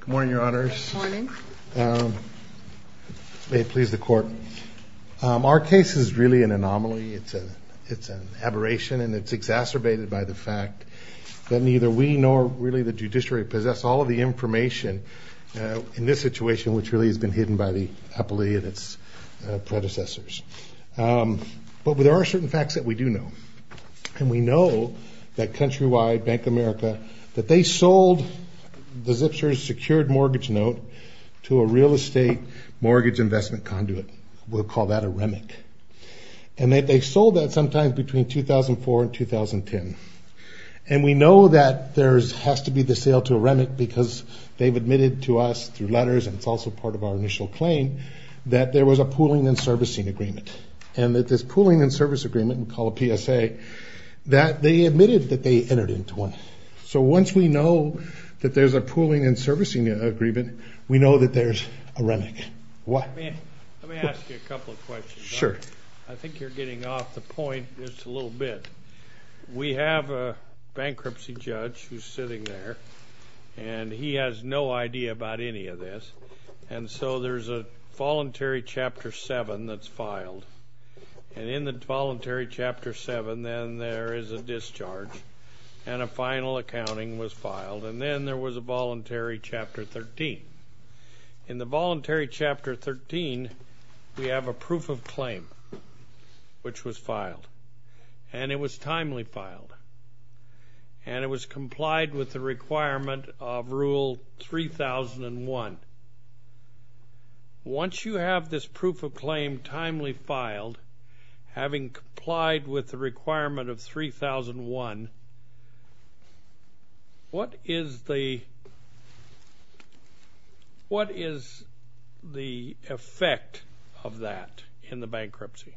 Good morning, your honors. May it please the court. Our case is really an anomaly. It's an aberration and it's exacerbated by the fact that neither we nor really the judiciary possess all of the information in this situation, which really has been hidden by the appellee and its predecessors. But there are certain facts that we do know. And we know that Countrywide Bank of America, that they sold the Zipser's secured mortgage note to a real estate mortgage investment conduit. We'll call that a REMIC. And they sold that sometime between 2004 and 2010. And we know that there has to be the sale to a REMIC because they've admitted to us through letters, and it's also part of our initial claim, that there was a pooling and servicing agreement. And that this pooling and service agreement, we call a PSA, that they admitted that they entered into one. So once we know that there's a pooling and servicing agreement, we know that there's a REMIC. Let me ask you a couple of questions. I think you're getting off the point just a little bit. We have a bankruptcy judge who's sitting there, and he has no idea about any of this. And so there's a voluntary Chapter 7 that's filed. And in the voluntary Chapter 7, then there is a discharge. And a final accounting was filed. And then there was a voluntary Chapter 13. In the voluntary Chapter 13, we have a proof of claim, which was filed. And it was timely filed. And it was complied with the requirement of Rule 3001. Once you have this proof of claim timely filed, having complied with the requirement of 3001, what is the effect of that in the bankruptcy?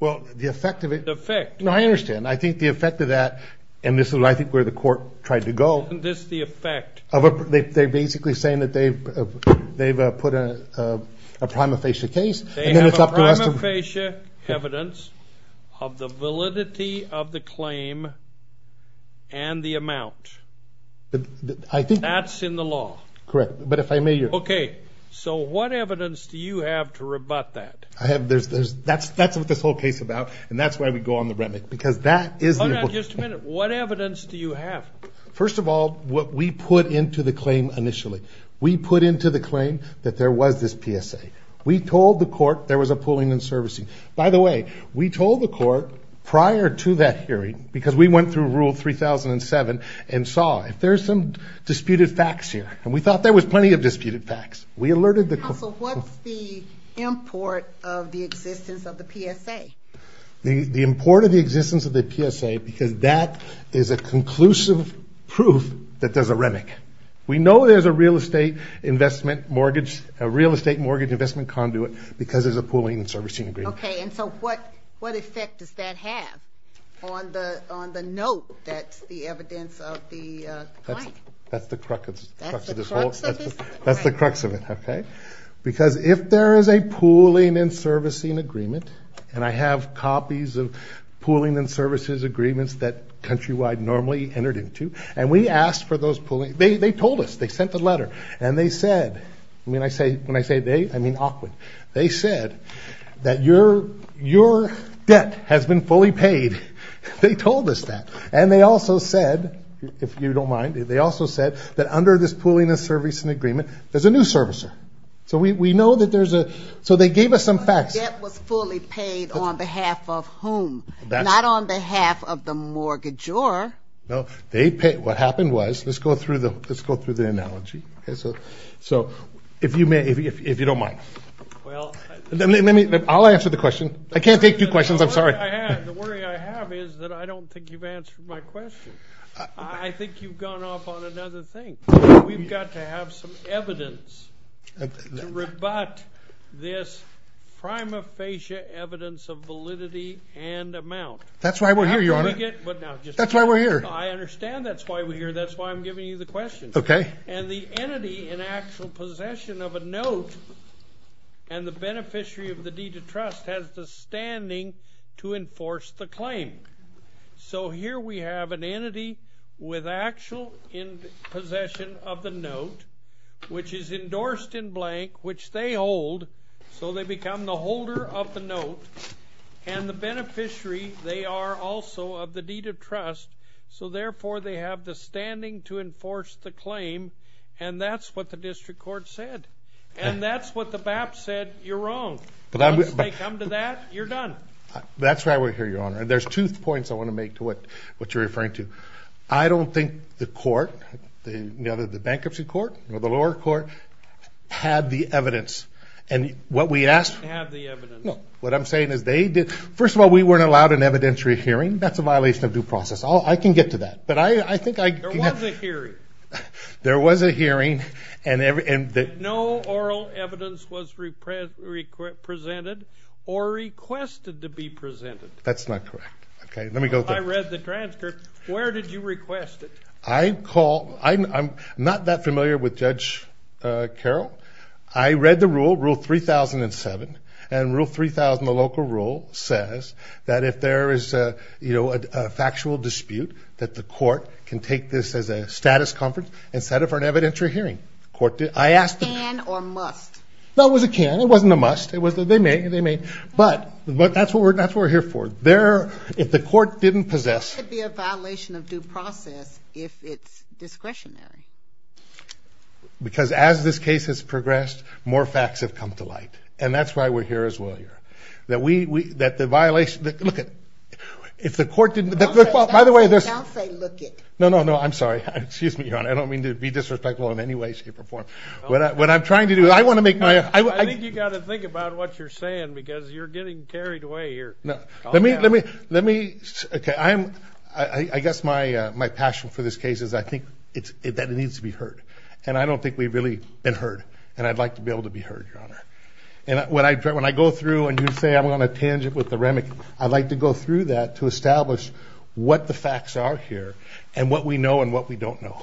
No, I understand. I think the effect of that, and this is, I think, where the court tried to go. Isn't this the effect? They're basically saying that they've put a prima facie case. They have a prima facie evidence of the validity of the claim and the amount. That's in the law. Correct. But if I may... Okay. So what evidence do you have to rebut that? That's what this whole case is about. And that's why we go on the remit, because that is... Hold on just a minute. What evidence do you have? First of all, what we put into the claim initially. We put into the claim that there was this PSA. We told the court there was a pooling and servicing. By the way, we told the court prior to that hearing, because we went through Rule 3007, and saw if there's some disputed facts here. And we thought there was plenty of disputed facts. So what's the import of the existence of the PSA? The import of the existence of the PSA, because that is a conclusive proof that there's a remit. We know there's a real estate mortgage investment conduit, because there's a pooling and servicing agreement. Okay. And so what effect does that have on the note that's the evidence of the claim? That's the crux of it. That's the crux of it, okay. Because if there is a pooling and servicing agreement, and I have copies of pooling and services agreements that Countrywide normally entered into. And we asked for those pooling... They told us. They sent the letter. And they said... When I say they, I mean Awkward. They said that your debt has been fully paid. They told us that. And they also said, if you don't mind, they also said that under this pooling and servicing agreement, there's a new servicer. So we know that there's a... So they gave us some facts. Your debt was fully paid on behalf of whom? Not on behalf of the mortgagor. No. They paid... What happened was... Let's go through the analogy. So if you don't mind. Well... I'll answer the question. I can't take two questions. I'm sorry. The worry I have is that I don't think you've answered my question. I think you've gone off on another thing. We've got to have some evidence to rebut this prima facie evidence of validity and amount. That's why we're here, Your Honor. That's why we're here. I understand that's why we're here. That's why I'm giving you the question. Okay. And the entity in actual possession of a note and the beneficiary of the deed of trust has the standing to enforce the claim. So here we have an entity with actual possession of the note, which is endorsed in blank, which they hold. So they become the holder of the note. And the beneficiary, they are also of the deed of trust. So therefore, they have the standing to enforce the claim. And that's what the district court said. And that's what the BAP said. You're wrong. Once they come to that, you're done. That's why we're here, Your Honor. And there's two points I want to make to what you're referring to. I don't think the court, the bankruptcy court or the lower court, had the evidence. And what we asked... They didn't have the evidence. No. What I'm saying is they did. First of all, we weren't allowed an evidentiary hearing. That's a violation of due process. I can get to that. But I think I... There was a hearing. There was a hearing. And no oral evidence was presented or requested to be presented. That's not correct. Okay. Let me go there. I read the transcript. Where did you request it? I'm not that familiar with Judge Carroll. I read the rule, Rule 3007. And Rule 3000, the local rule, says that if there is a factual dispute, that the court can take this as a status conference and set it for an evidentiary hearing. I asked... Can or must? No, it was a can. It wasn't a must. They may. But that's what we're here for. If the court didn't possess... Why would it be a violation of due process if it's discretionary? Because as this case has progressed, more facts have come to light. And that's why we're here as well here. That we... That the violation... Look, if the court didn't... By the way, there's... Don't say look it. No, no, no. I'm sorry. Excuse me, Your Honor. I don't mean to be disrespectful in any way, shape, or form. What I'm trying to do... I want to make my... I think you've got to think about what you're saying because you're getting carried away here. No. Let me... Let me... Okay. I guess my passion for this case is I think that it needs to be heard. And I don't think we've really been heard. And I'd like to be able to be heard, Your Honor. And when I go through and you say I'm on a tangent with the remic, I'd like to go through that to establish what the facts are here and what we know and what we don't know.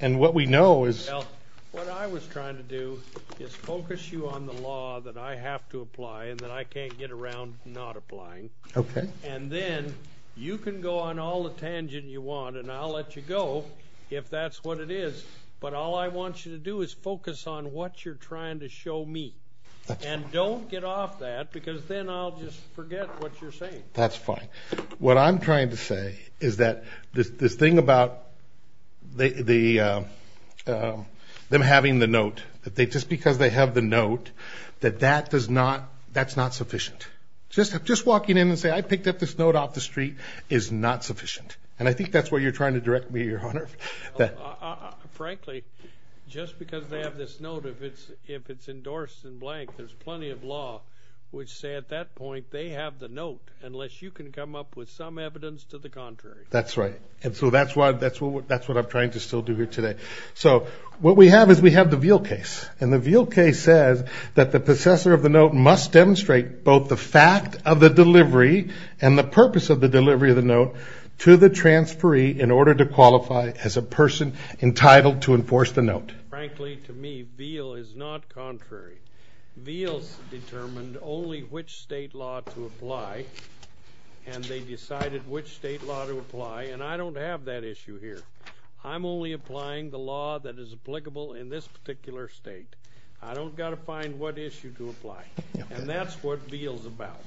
And what we know is... Well, what I was trying to do is focus you on the law that I have to apply and that I can't get around not applying. Okay. And then you can go on all the tangent you want, and I'll let you go if that's what it is. But all I want you to do is focus on what you're trying to show me. That's fine. And don't get off that because then I'll just forget what you're saying. That's fine. What I'm trying to say is that this thing about them having the note, just because they have the note, that that's not sufficient. Just walking in and saying, I picked up this note off the street is not sufficient. And I think that's what you're trying to direct me to, Your Honor. Frankly, just because they have this note, if it's endorsed in blank, there's plenty of law which say at that point they have the note unless you can come up with some evidence to the contrary. That's right. And so that's what I'm trying to still do here today. So what we have is we have the Veal case, and the Veal case says that the possessor of the note must demonstrate both the fact of the delivery and the purpose of the delivery of the note to the transferee in order to qualify as a person entitled to enforce the note. Frankly, to me, Veal is not contrary. Veal's determined only which state law to apply, and they decided which state law to apply, and I don't have that issue here. I'm only applying the law that is applicable in this particular state. I don't got to find what issue to apply, and that's what Veal's about.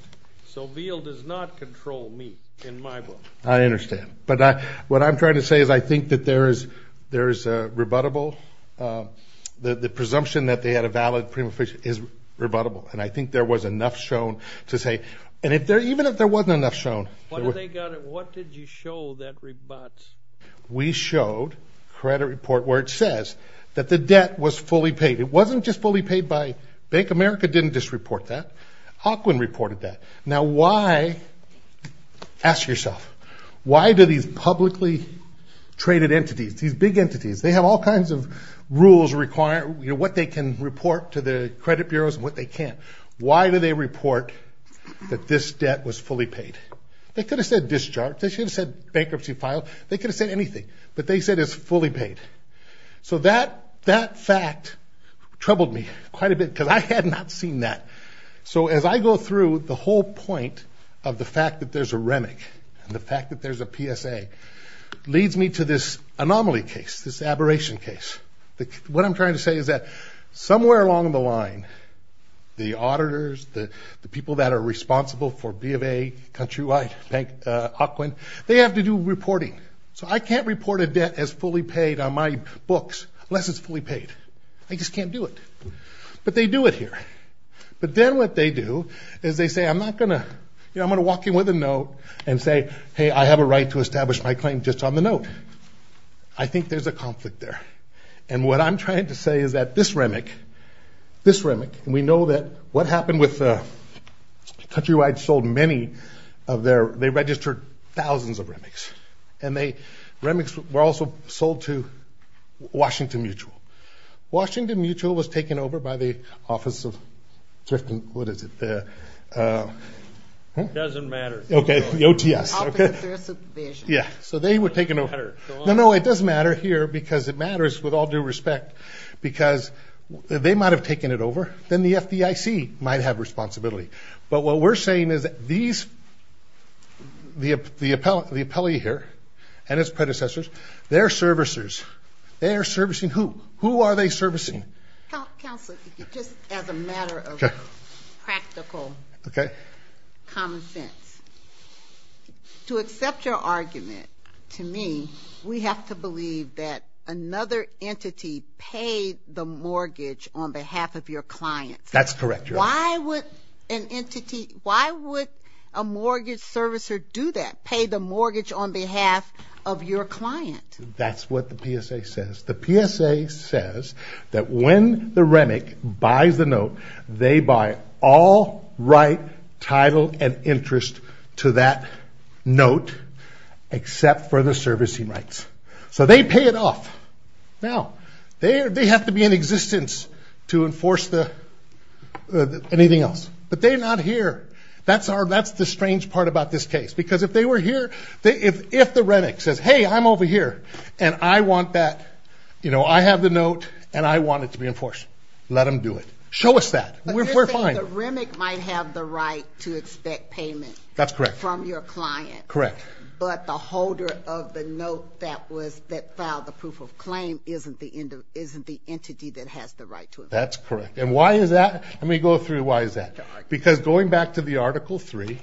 So Veal does not control me in my book. I understand. But what I'm trying to say is I think that there is rebuttable. The presumption that they had a valid prima facie is rebuttable, and I think there was enough shown to say. And even if there wasn't enough shown. What did you show that rebuts? We showed a credit report where it says that the debt was fully paid. It wasn't just fully paid by Bank of America. It didn't just report that. Aukland reported that. Now, why? Ask yourself, why do these publicly traded entities, these big entities, they have all kinds of rules requiring what they can report to the credit bureaus and what they can't. Why do they report that this debt was fully paid? They could have said discharged. They should have said bankruptcy filed. They could have said anything, but they said it's fully paid. So that fact troubled me quite a bit because I had not seen that. So as I go through, the whole point of the fact that there's a REMIC and the fact that there's a PSA leads me to this anomaly case, this aberration case. What I'm trying to say is that somewhere along the line, the auditors, the people that are responsible for B of A, Countrywide, Aukland, they have to do reporting. So I can't report a debt as fully paid on my books unless it's fully paid. I just can't do it. But they do it here. But then what they do is they say, I'm not going to, you know, I'm going to walk in with a note and say, hey, I have a right to establish my claim just on the note. I think there's a conflict there. And what I'm trying to say is that this REMIC, this REMIC, and we know that what happened with Countrywide sold many of their, they registered thousands of REMICs, and they, REMICs were also sold to Washington Mutual. Washington Mutual was taken over by the Office of Thrift and, what is it? It doesn't matter. Okay, the OTS. Yeah, so they were taken over. No, no, it does matter here because it matters with all due respect because they might have taken it over. Then the FDIC might have responsibility. But what we're saying is that these, the appellee here and his predecessors, they're servicers. They're servicing who? Who are they servicing? Counselor, just as a matter of practical common sense, to accept your argument, to me, we have to believe that another entity paid the mortgage on behalf of your client. That's correct, Your Honor. Why would an entity, why would a mortgage servicer do that, pay the mortgage on behalf of your client? That's what the PSA says. The PSA says that when the REMIC buys the note, they buy all right, title, and interest to that note except for the servicing rights. So they pay it off. Now, they have to be in existence to enforce anything else. But they're not here. That's the strange part about this case. Because if they were here, if the REMIC says, hey, I'm over here and I want that, you know, I have the note and I want it to be enforced, let them do it. Show us that. We're fine. But you're saying the REMIC might have the right to expect payment. That's correct. From your client. Correct. But the holder of the note that filed the proof of claim isn't the entity that has the right to it. That's correct. And why is that? Let me go through why is that. Because going back to the Article III,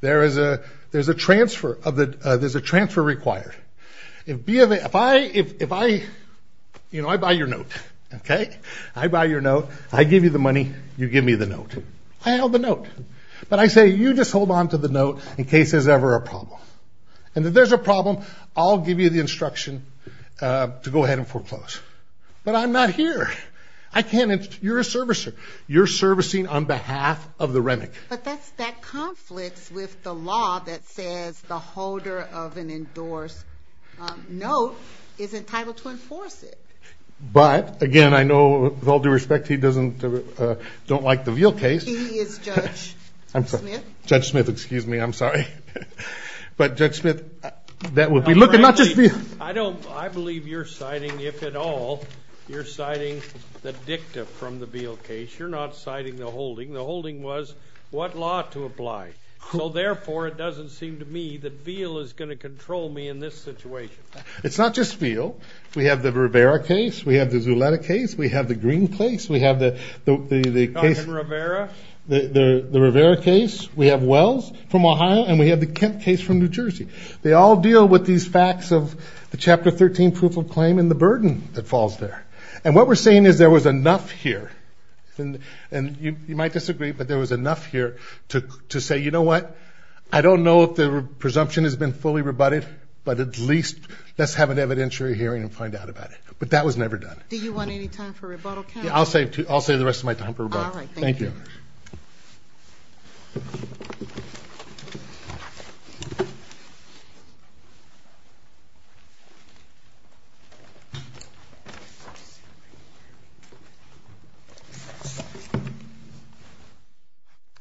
there's a transfer required. If I, you know, I buy your note, okay? I buy your note. I give you the money. You give me the note. I have the note. But I say, you just hold on to the note in case there's ever a problem. And if there's a problem, I'll give you the instruction to go ahead and foreclose. But I'm not here. I can't. You're a servicer. You're servicing on behalf of the REMIC. But that conflicts with the law that says the holder of an endorsed note is entitled to enforce it. But, again, I know with all due respect, he doesn't like the Veal case. He is Judge Smith. Judge Smith, excuse me. I'm sorry. But, Judge Smith, that would be looking not just for you. I believe you're citing, if at all, you're citing the dicta from the Veal case. You're not citing the holding. The holding was what law to apply. So, therefore, it doesn't seem to me that Veal is going to control me in this situation. It's not just Veal. We have the Rivera case. We have the Zuleta case. We have the Green case. We have the case. The Rivera case. We have Wells from Ohio. And we have the Kent case from New Jersey. They all deal with these facts of the Chapter 13 proof of claim and the burden that falls there. And what we're saying is there was enough here. And you might disagree, but there was enough here to say, you know what? I don't know if the presumption has been fully rebutted, but at least let's have an evidentiary hearing and find out about it. Do you want any time for rebuttal, Ken? I'll save the rest of my time for rebuttal. All right, thank you. Thank you.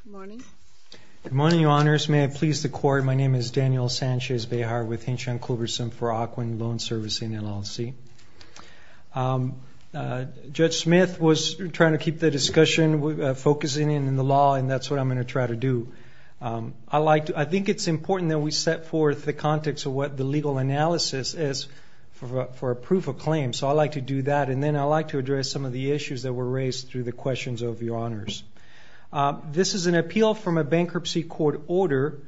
Good morning. Good morning, Your Honors. May it please the Court, my name is Daniel Sanchez Behar with Hinshaw & Culberson for Ocwin Loan Servicing, LLC. Judge Smith was trying to keep the discussion focusing in on the law, and that's what I'm going to try to do. I think it's important that we set forth the context of what the legal analysis is for a proof of claim. So I'd like to do that, and then I'd like to address some of the issues that were raised through the questions of Your Honors. This is an appeal from a bankruptcy court order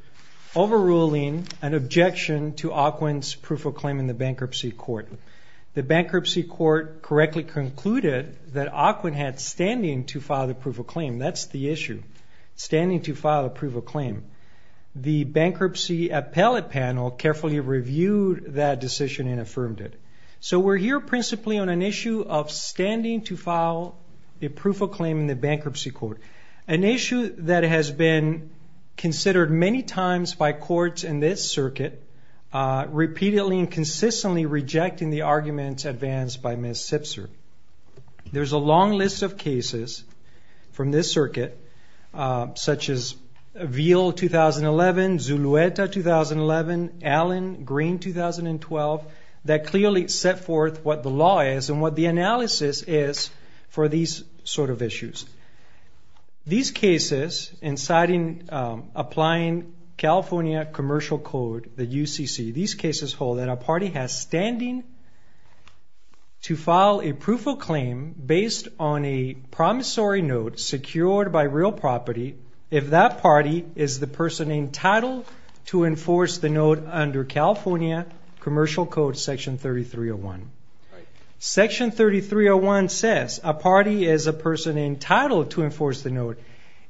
overruling an objection to Ocwin's proof of claim in the bankruptcy court. The bankruptcy court correctly concluded that Ocwin had standing to file the proof of claim. That's the issue, standing to file a proof of claim. The bankruptcy appellate panel carefully reviewed that decision and affirmed it. So we're here principally on an issue of standing to file a proof of claim in the bankruptcy court, an issue that has been considered many times by courts in this circuit, repeatedly and consistently rejecting the arguments advanced by Ms. Sipser. There's a long list of cases from this circuit, such as Veal 2011, Zulueta 2011, Allen Green 2012, that clearly set forth what the law is and what the analysis is for these sort of issues. These cases inciting applying California Commercial Code, the UCC, these cases hold that a party has standing to file a proof of claim based on a promissory note secured by real property if that party is the person entitled to enforce the note under California Commercial Code Section 3301. Section 3301 says a party is a person entitled to enforce the note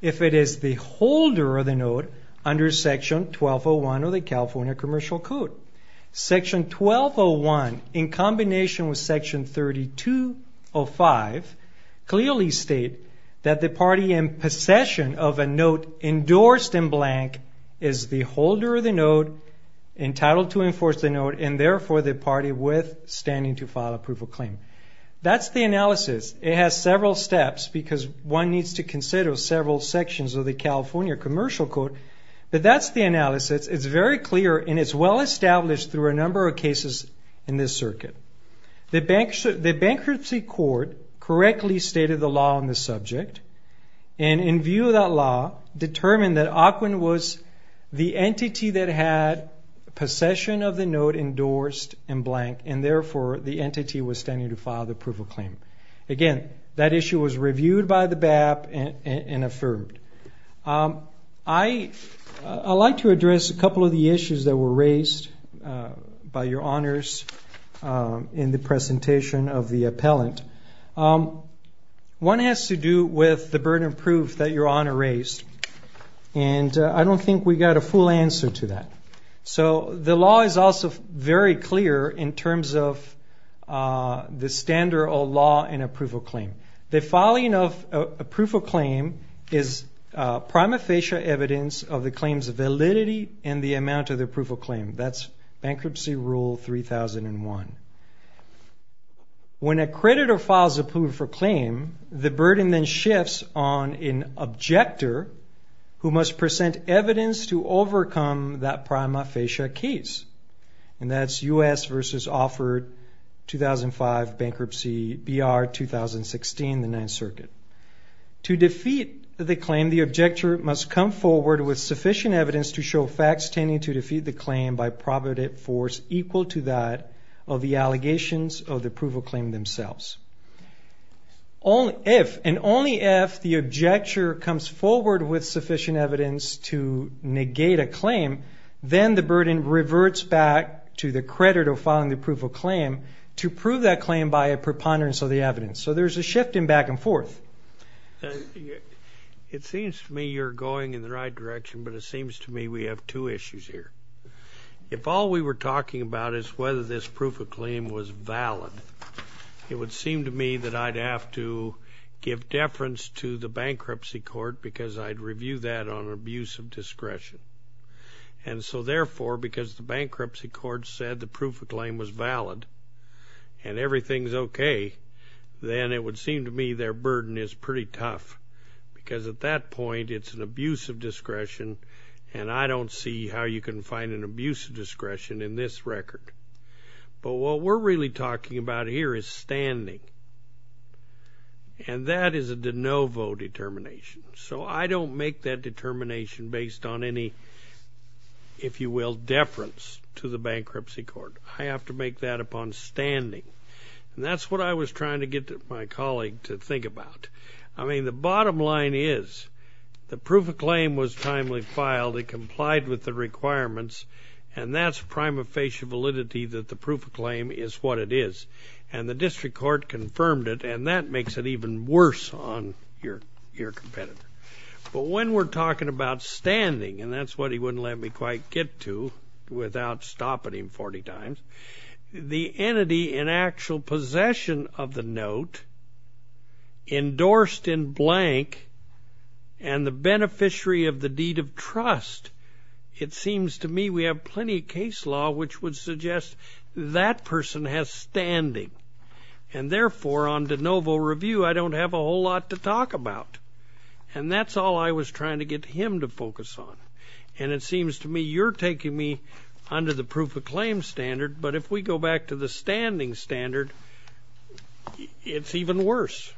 if it is the holder of the note under Section 1201 of the California Commercial Code. Section 1201, in combination with Section 3205, clearly states that the party in possession of a note endorsed in blank is the holder of the note, entitled to enforce the note, and therefore the party with standing to file a proof of claim. That's the analysis. It has several steps because one needs to consider several sections of the California Commercial Code, but that's the analysis. It's very clear and it's well established through a number of cases in this circuit. The bankruptcy court correctly stated the law on the subject and, in view of that law, determined that Ocwen was the entity that had possession of the note endorsed in blank and, therefore, the entity with standing to file the proof of claim. Again, that issue was reviewed by the BAP and affirmed. I'd like to address a couple of the issues that were raised by your honors in the presentation of the appellant. One has to do with the burden of proof that your honor raised, and I don't think we got a full answer to that. So the law is also very clear in terms of the standard of law in a proof of claim. The filing of a proof of claim is prima facie evidence of the claim's validity and the amount of the proof of claim. That's Bankruptcy Rule 3001. When a creditor files a proof of claim, the burden then shifts on an objector who must present evidence to overcome that prima facie case, and that's U.S. v. Offered, 2005, Bankruptcy, B.R., 2016, the Ninth Circuit. To defeat the claim, the objector must come forward with sufficient evidence to show facts tending to defeat the claim by probability force equal to that of the allegations of the proof of claim themselves. And only if the objector comes forward with sufficient evidence to negate a claim, then the burden reverts back to the creditor filing the proof of claim to prove that claim by a preponderance of the evidence. So there's a shift in back and forth. It seems to me you're going in the right direction, but it seems to me we have two issues here. If all we were talking about is whether this proof of claim was valid, it would seem to me that I'd have to give deference to the Bankruptcy Court because I'd review that on abuse of discretion. And so therefore, because the Bankruptcy Court said the proof of claim was valid and everything's okay, then it would seem to me their burden is pretty tough because at that point it's an abuse of discretion, and I don't see how you can find an abuse of discretion in this record. But what we're really talking about here is standing, and that is a de novo determination. So I don't make that determination based on any, if you will, deference to the Bankruptcy Court. I have to make that upon standing, and that's what I was trying to get my colleague to think about. I mean, the bottom line is the proof of claim was timely filed. It complied with the requirements, and that's prima facie validity that the proof of claim is what it is. And the district court confirmed it, and that makes it even worse on your competitor. But when we're talking about standing, and that's what he wouldn't let me quite get to without stopping him 40 times, the entity in actual possession of the note, endorsed in blank, and the beneficiary of the deed of trust, it seems to me we have plenty of case law which would suggest that person has standing. And therefore, on de novo review, I don't have a whole lot to talk about, and that's all I was trying to get him to focus on. And it seems to me you're taking me under the proof of claim standard, but if we go back to the standing standard, it's even worse.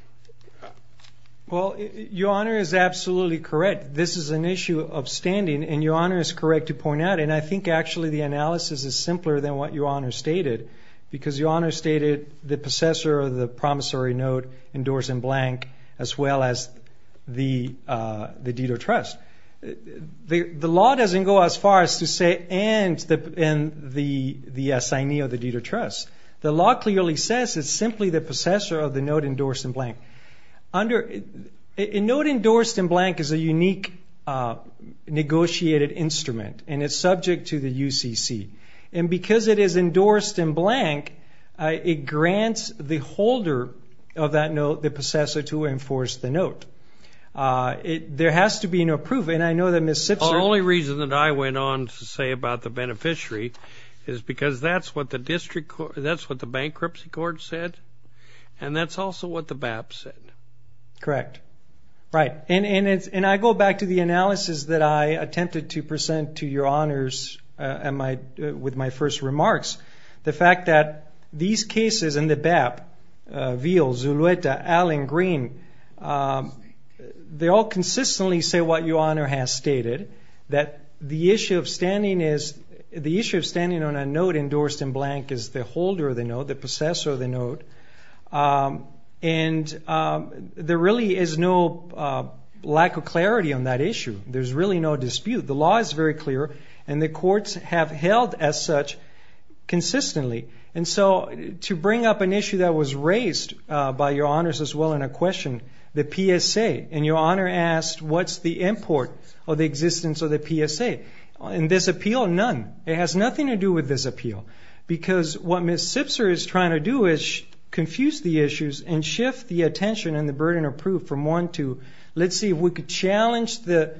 Well, Your Honor is absolutely correct. This is an issue of standing, and Your Honor is correct to point out, and I think actually the analysis is simpler than what Your Honor stated because Your Honor stated the possessor of the promissory note, endorsed in blank, as well as the deed of trust. The law doesn't go as far as to say and the assignee of the deed of trust. The law clearly says it's simply the possessor of the note endorsed in blank. A note endorsed in blank is a unique negotiated instrument, and it's subject to the UCC. And because it is endorsed in blank, it grants the holder of that note, the possessor, to enforce the note. There has to be no proof, and I know that Ms. Sipser ---- The only reason that I went on to say about the beneficiary is because that's what the bankruptcy court said, and that's also what the BAP said. Correct. Right. And I go back to the analysis that I attempted to present to Your Honors with my first remarks. The fact that these cases in the BAP, Veal, Zulueta, Allen, Green, they all consistently say what Your Honor has stated, that the issue of standing on a note endorsed in blank is the holder of the note, the possessor of the note. And there really is no lack of clarity on that issue. There's really no dispute. The law is very clear, and the courts have held as such consistently. And so to bring up an issue that was raised by Your Honors as well in a question, the PSA. And Your Honor asked what's the import of the existence of the PSA. In this appeal, none. It has nothing to do with this appeal. Because what Ms. Sipser is trying to do is confuse the issues and shift the attention and the burden of proof from one to, let's see if we could challenge the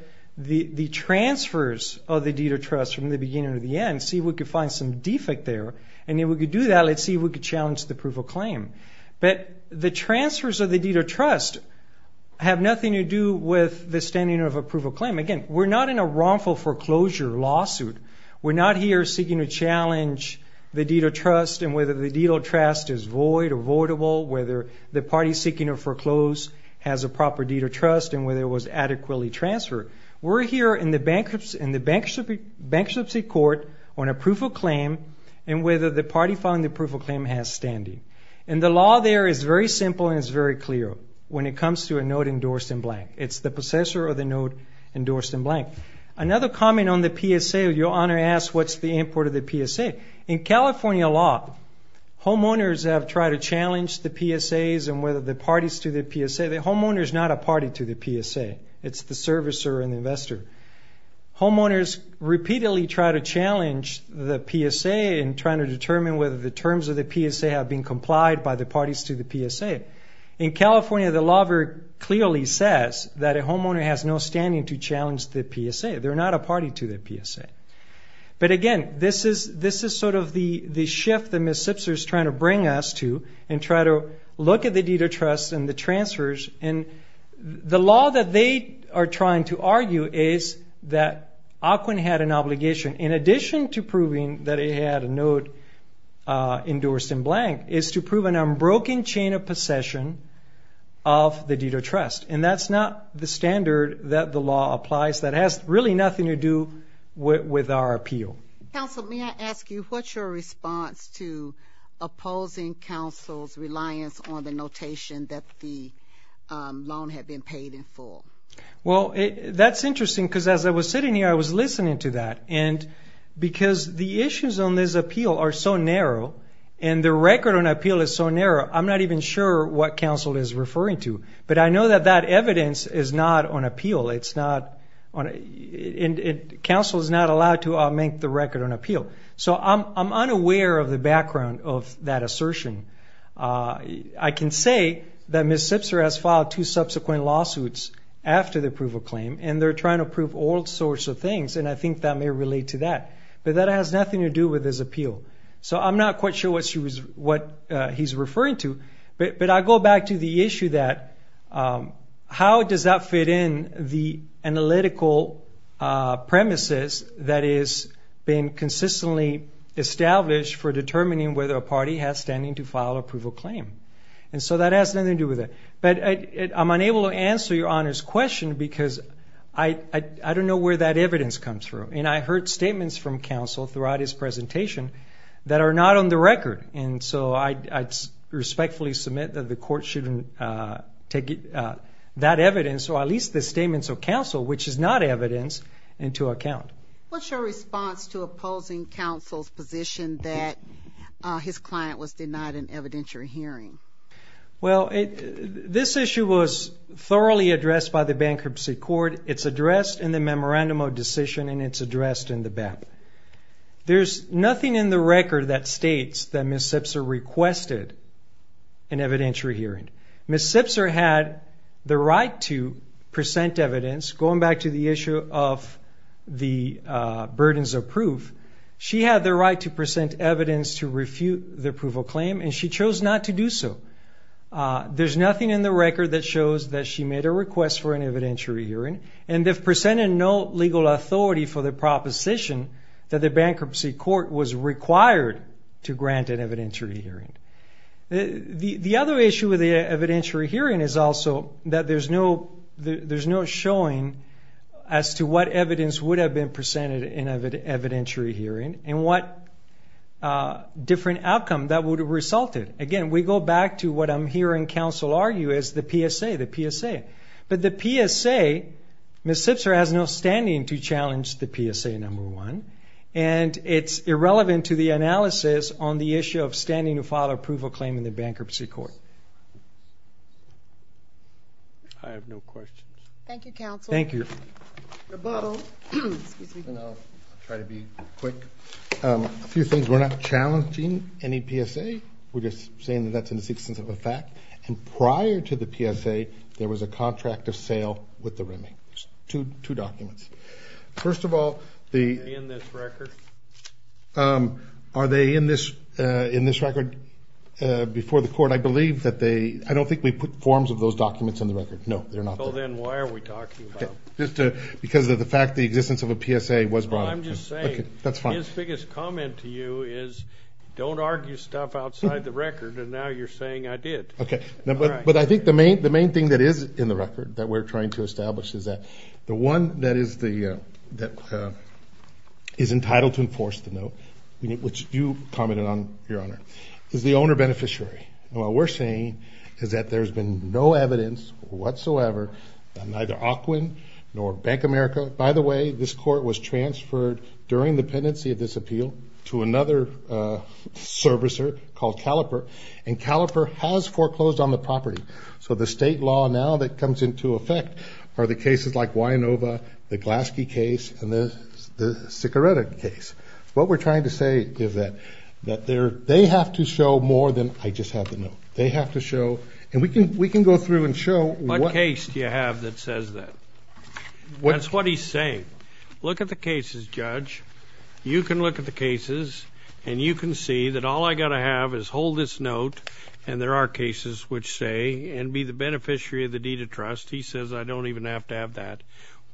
transfers of the deed of trust from the beginning to the end, see if we could find some defect there. And if we could do that, let's see if we could challenge the proof of claim. But the transfers of the deed of trust have nothing to do with the standing of a proof of claim. Again, we're not in a wrongful foreclosure lawsuit. We're not here seeking to challenge the deed of trust and whether the deed of trust is void or voidable, whether the party seeking to foreclose has a proper deed of trust and whether it was adequately transferred. We're here in the bankruptcy court on a proof of claim and whether the party found the proof of claim has standing. And the law there is very simple and it's very clear when it comes to a note endorsed in blank. It's the possessor of the note endorsed in blank. Another comment on the PSA, your Honor asked what's the import of the PSA. In California law, homeowners have tried to challenge the PSAs and whether the parties to the PSA, the homeowner is not a party to the PSA. It's the servicer and the investor. Homeowners repeatedly try to challenge the PSA in trying to determine whether the terms of the PSA have been complied by the parties to the PSA. In California, the law very clearly says that a homeowner has no standing to challenge the PSA. They're not a party to the PSA. But again, this is sort of the shift that Ms. Sipser is trying to bring us to and try to look at the deed of trust and the transfers. And the law that they are trying to argue is that Aquin had an obligation in addition to proving that he had a note endorsed in blank, is to prove an unbroken chain of possession of the deed of trust. And that's not the standard that the law applies. That has really nothing to do with our appeal. Counsel, may I ask you what's your response to opposing counsel's reliance on the notation that the loan had been paid in full? Well, that's interesting because as I was sitting here, I was listening to that. And because the issues on this appeal are so narrow and the record on appeal is so narrow, I'm not even sure what counsel is referring to. But I know that that evidence is not on appeal. Counsel is not allowed to make the record on appeal. So I'm unaware of the background of that assertion. I can say that Ms. Sipser has filed two subsequent lawsuits after the approval claim, and they're trying to prove all sorts of things. And I think that may relate to that. But that has nothing to do with this appeal. So I'm not quite sure what he's referring to. But I go back to the issue that how does that fit in the analytical premises that is being consistently established for determining whether a party has standing to file approval claim. And so that has nothing to do with it. But I'm unable to answer Your Honor's question because I don't know where that evidence comes from. And I heard statements from counsel throughout his presentation that are not on the record. And so I respectfully submit that the court shouldn't take that evidence or at least the statements of counsel, which is not evidence, into account. What's your response to opposing counsel's position that his client was denied an evidentiary hearing? Well, this issue was thoroughly addressed by the bankruptcy court. It's addressed in the memorandum of decision, and it's addressed in the BAP. There's nothing in the record that states that Ms. Sipser requested an evidentiary hearing. Ms. Sipser had the right to present evidence. Going back to the issue of the burdens of proof, she had the right to present evidence to refute the approval claim, and she chose not to do so. There's nothing in the record that shows that she made a request for an evidentiary hearing, and they've presented no legal authority for the proposition that the bankruptcy court was required to grant an evidentiary hearing. The other issue with the evidentiary hearing is also that there's no showing as to what evidence would have been presented in an evidentiary hearing and what different outcome that would have resulted. Again, we go back to what I'm hearing counsel argue is the PSA. But the PSA, Ms. Sipser has no standing to challenge the PSA, number one, and it's irrelevant to the analysis on the issue of standing to file approval claim in the bankruptcy court. I have no questions. Thank you, counsel. Thank you. Rebuttal. Excuse me. I'll try to be quick. A few things. We're not challenging any PSA. We're just saying that that's in the existence of a fact. And prior to the PSA, there was a contract of sale with the remit. Two documents. First of all, the- Are they in this record? Are they in this record before the court? But I believe that they-I don't think we put forms of those documents in the record. No, they're not there. So then why are we talking about them? Just because of the fact the existence of a PSA was brought up. I'm just saying. That's fine. His biggest comment to you is don't argue stuff outside the record, and now you're saying I did. Okay. But I think the main thing that is in the record that we're trying to establish is that the one that is entitled to enforce the note, which you commented on, Your Honor, is the owner-beneficiary. And what we're saying is that there's been no evidence whatsoever that neither Ocwin nor Bank America- by the way, this court was transferred during the pendency of this appeal to another servicer called Caliper, and Caliper has foreclosed on the property. So the state law now that comes into effect are the cases like Winova, the Glaske case, and the Sicoretta case. What we're trying to say is that they have to show more than I just have the note. They have to show, and we can go through and show. What case do you have that says that? That's what he's saying. Look at the cases, Judge. You can look at the cases, and you can see that all I've got to have is hold this note, and there are cases which say and be the beneficiary of the deed of trust. He says I don't even have to have that.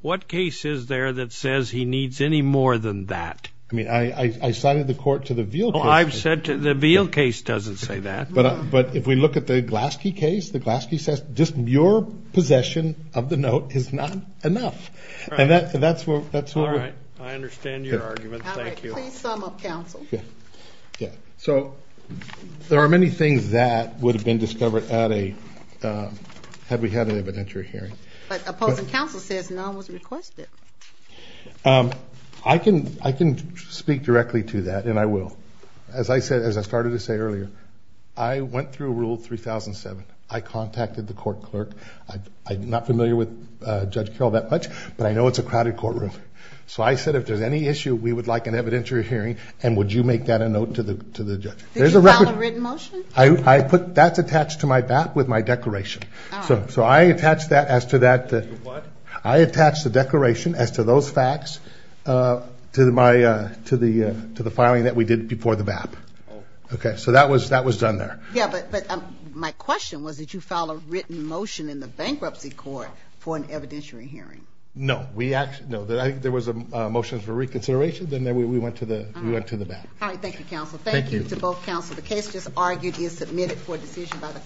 What case is there that says he needs any more than that? I mean, I cited the court to the Veal case. Oh, I've said the Veal case doesn't say that. But if we look at the Glaske case, the Glaske says just your possession of the note is not enough. And that's what we're- All right. I understand your argument. Thank you. All right. Please sum up, counsel. Yeah. So there are many things that would have been discovered at a-had we had an evidentiary hearing. But opposing counsel says none was requested. I can speak directly to that, and I will. As I said-as I started to say earlier, I went through Rule 3007. I contacted the court clerk. I'm not familiar with Judge Carroll that much, but I know it's a crowded courtroom. So I said if there's any issue, we would like an evidentiary hearing, and would you make that a note to the judge? Did you file a written motion? I put-that's attached to my BAP with my declaration. All right. So I attached that as to that- You what? I attached the declaration as to those facts to my-to the filing that we did before the BAP. Oh. Okay. So that was done there. Yeah, but my question was did you file a written motion in the bankruptcy court for an evidentiary hearing? No. We actually-no. I think there was a motion for reconsideration. Then we went to the BAP. All right. Thank you, counsel. Thank you to both counsel. Thank you. The case just argued is submitted for decision by the-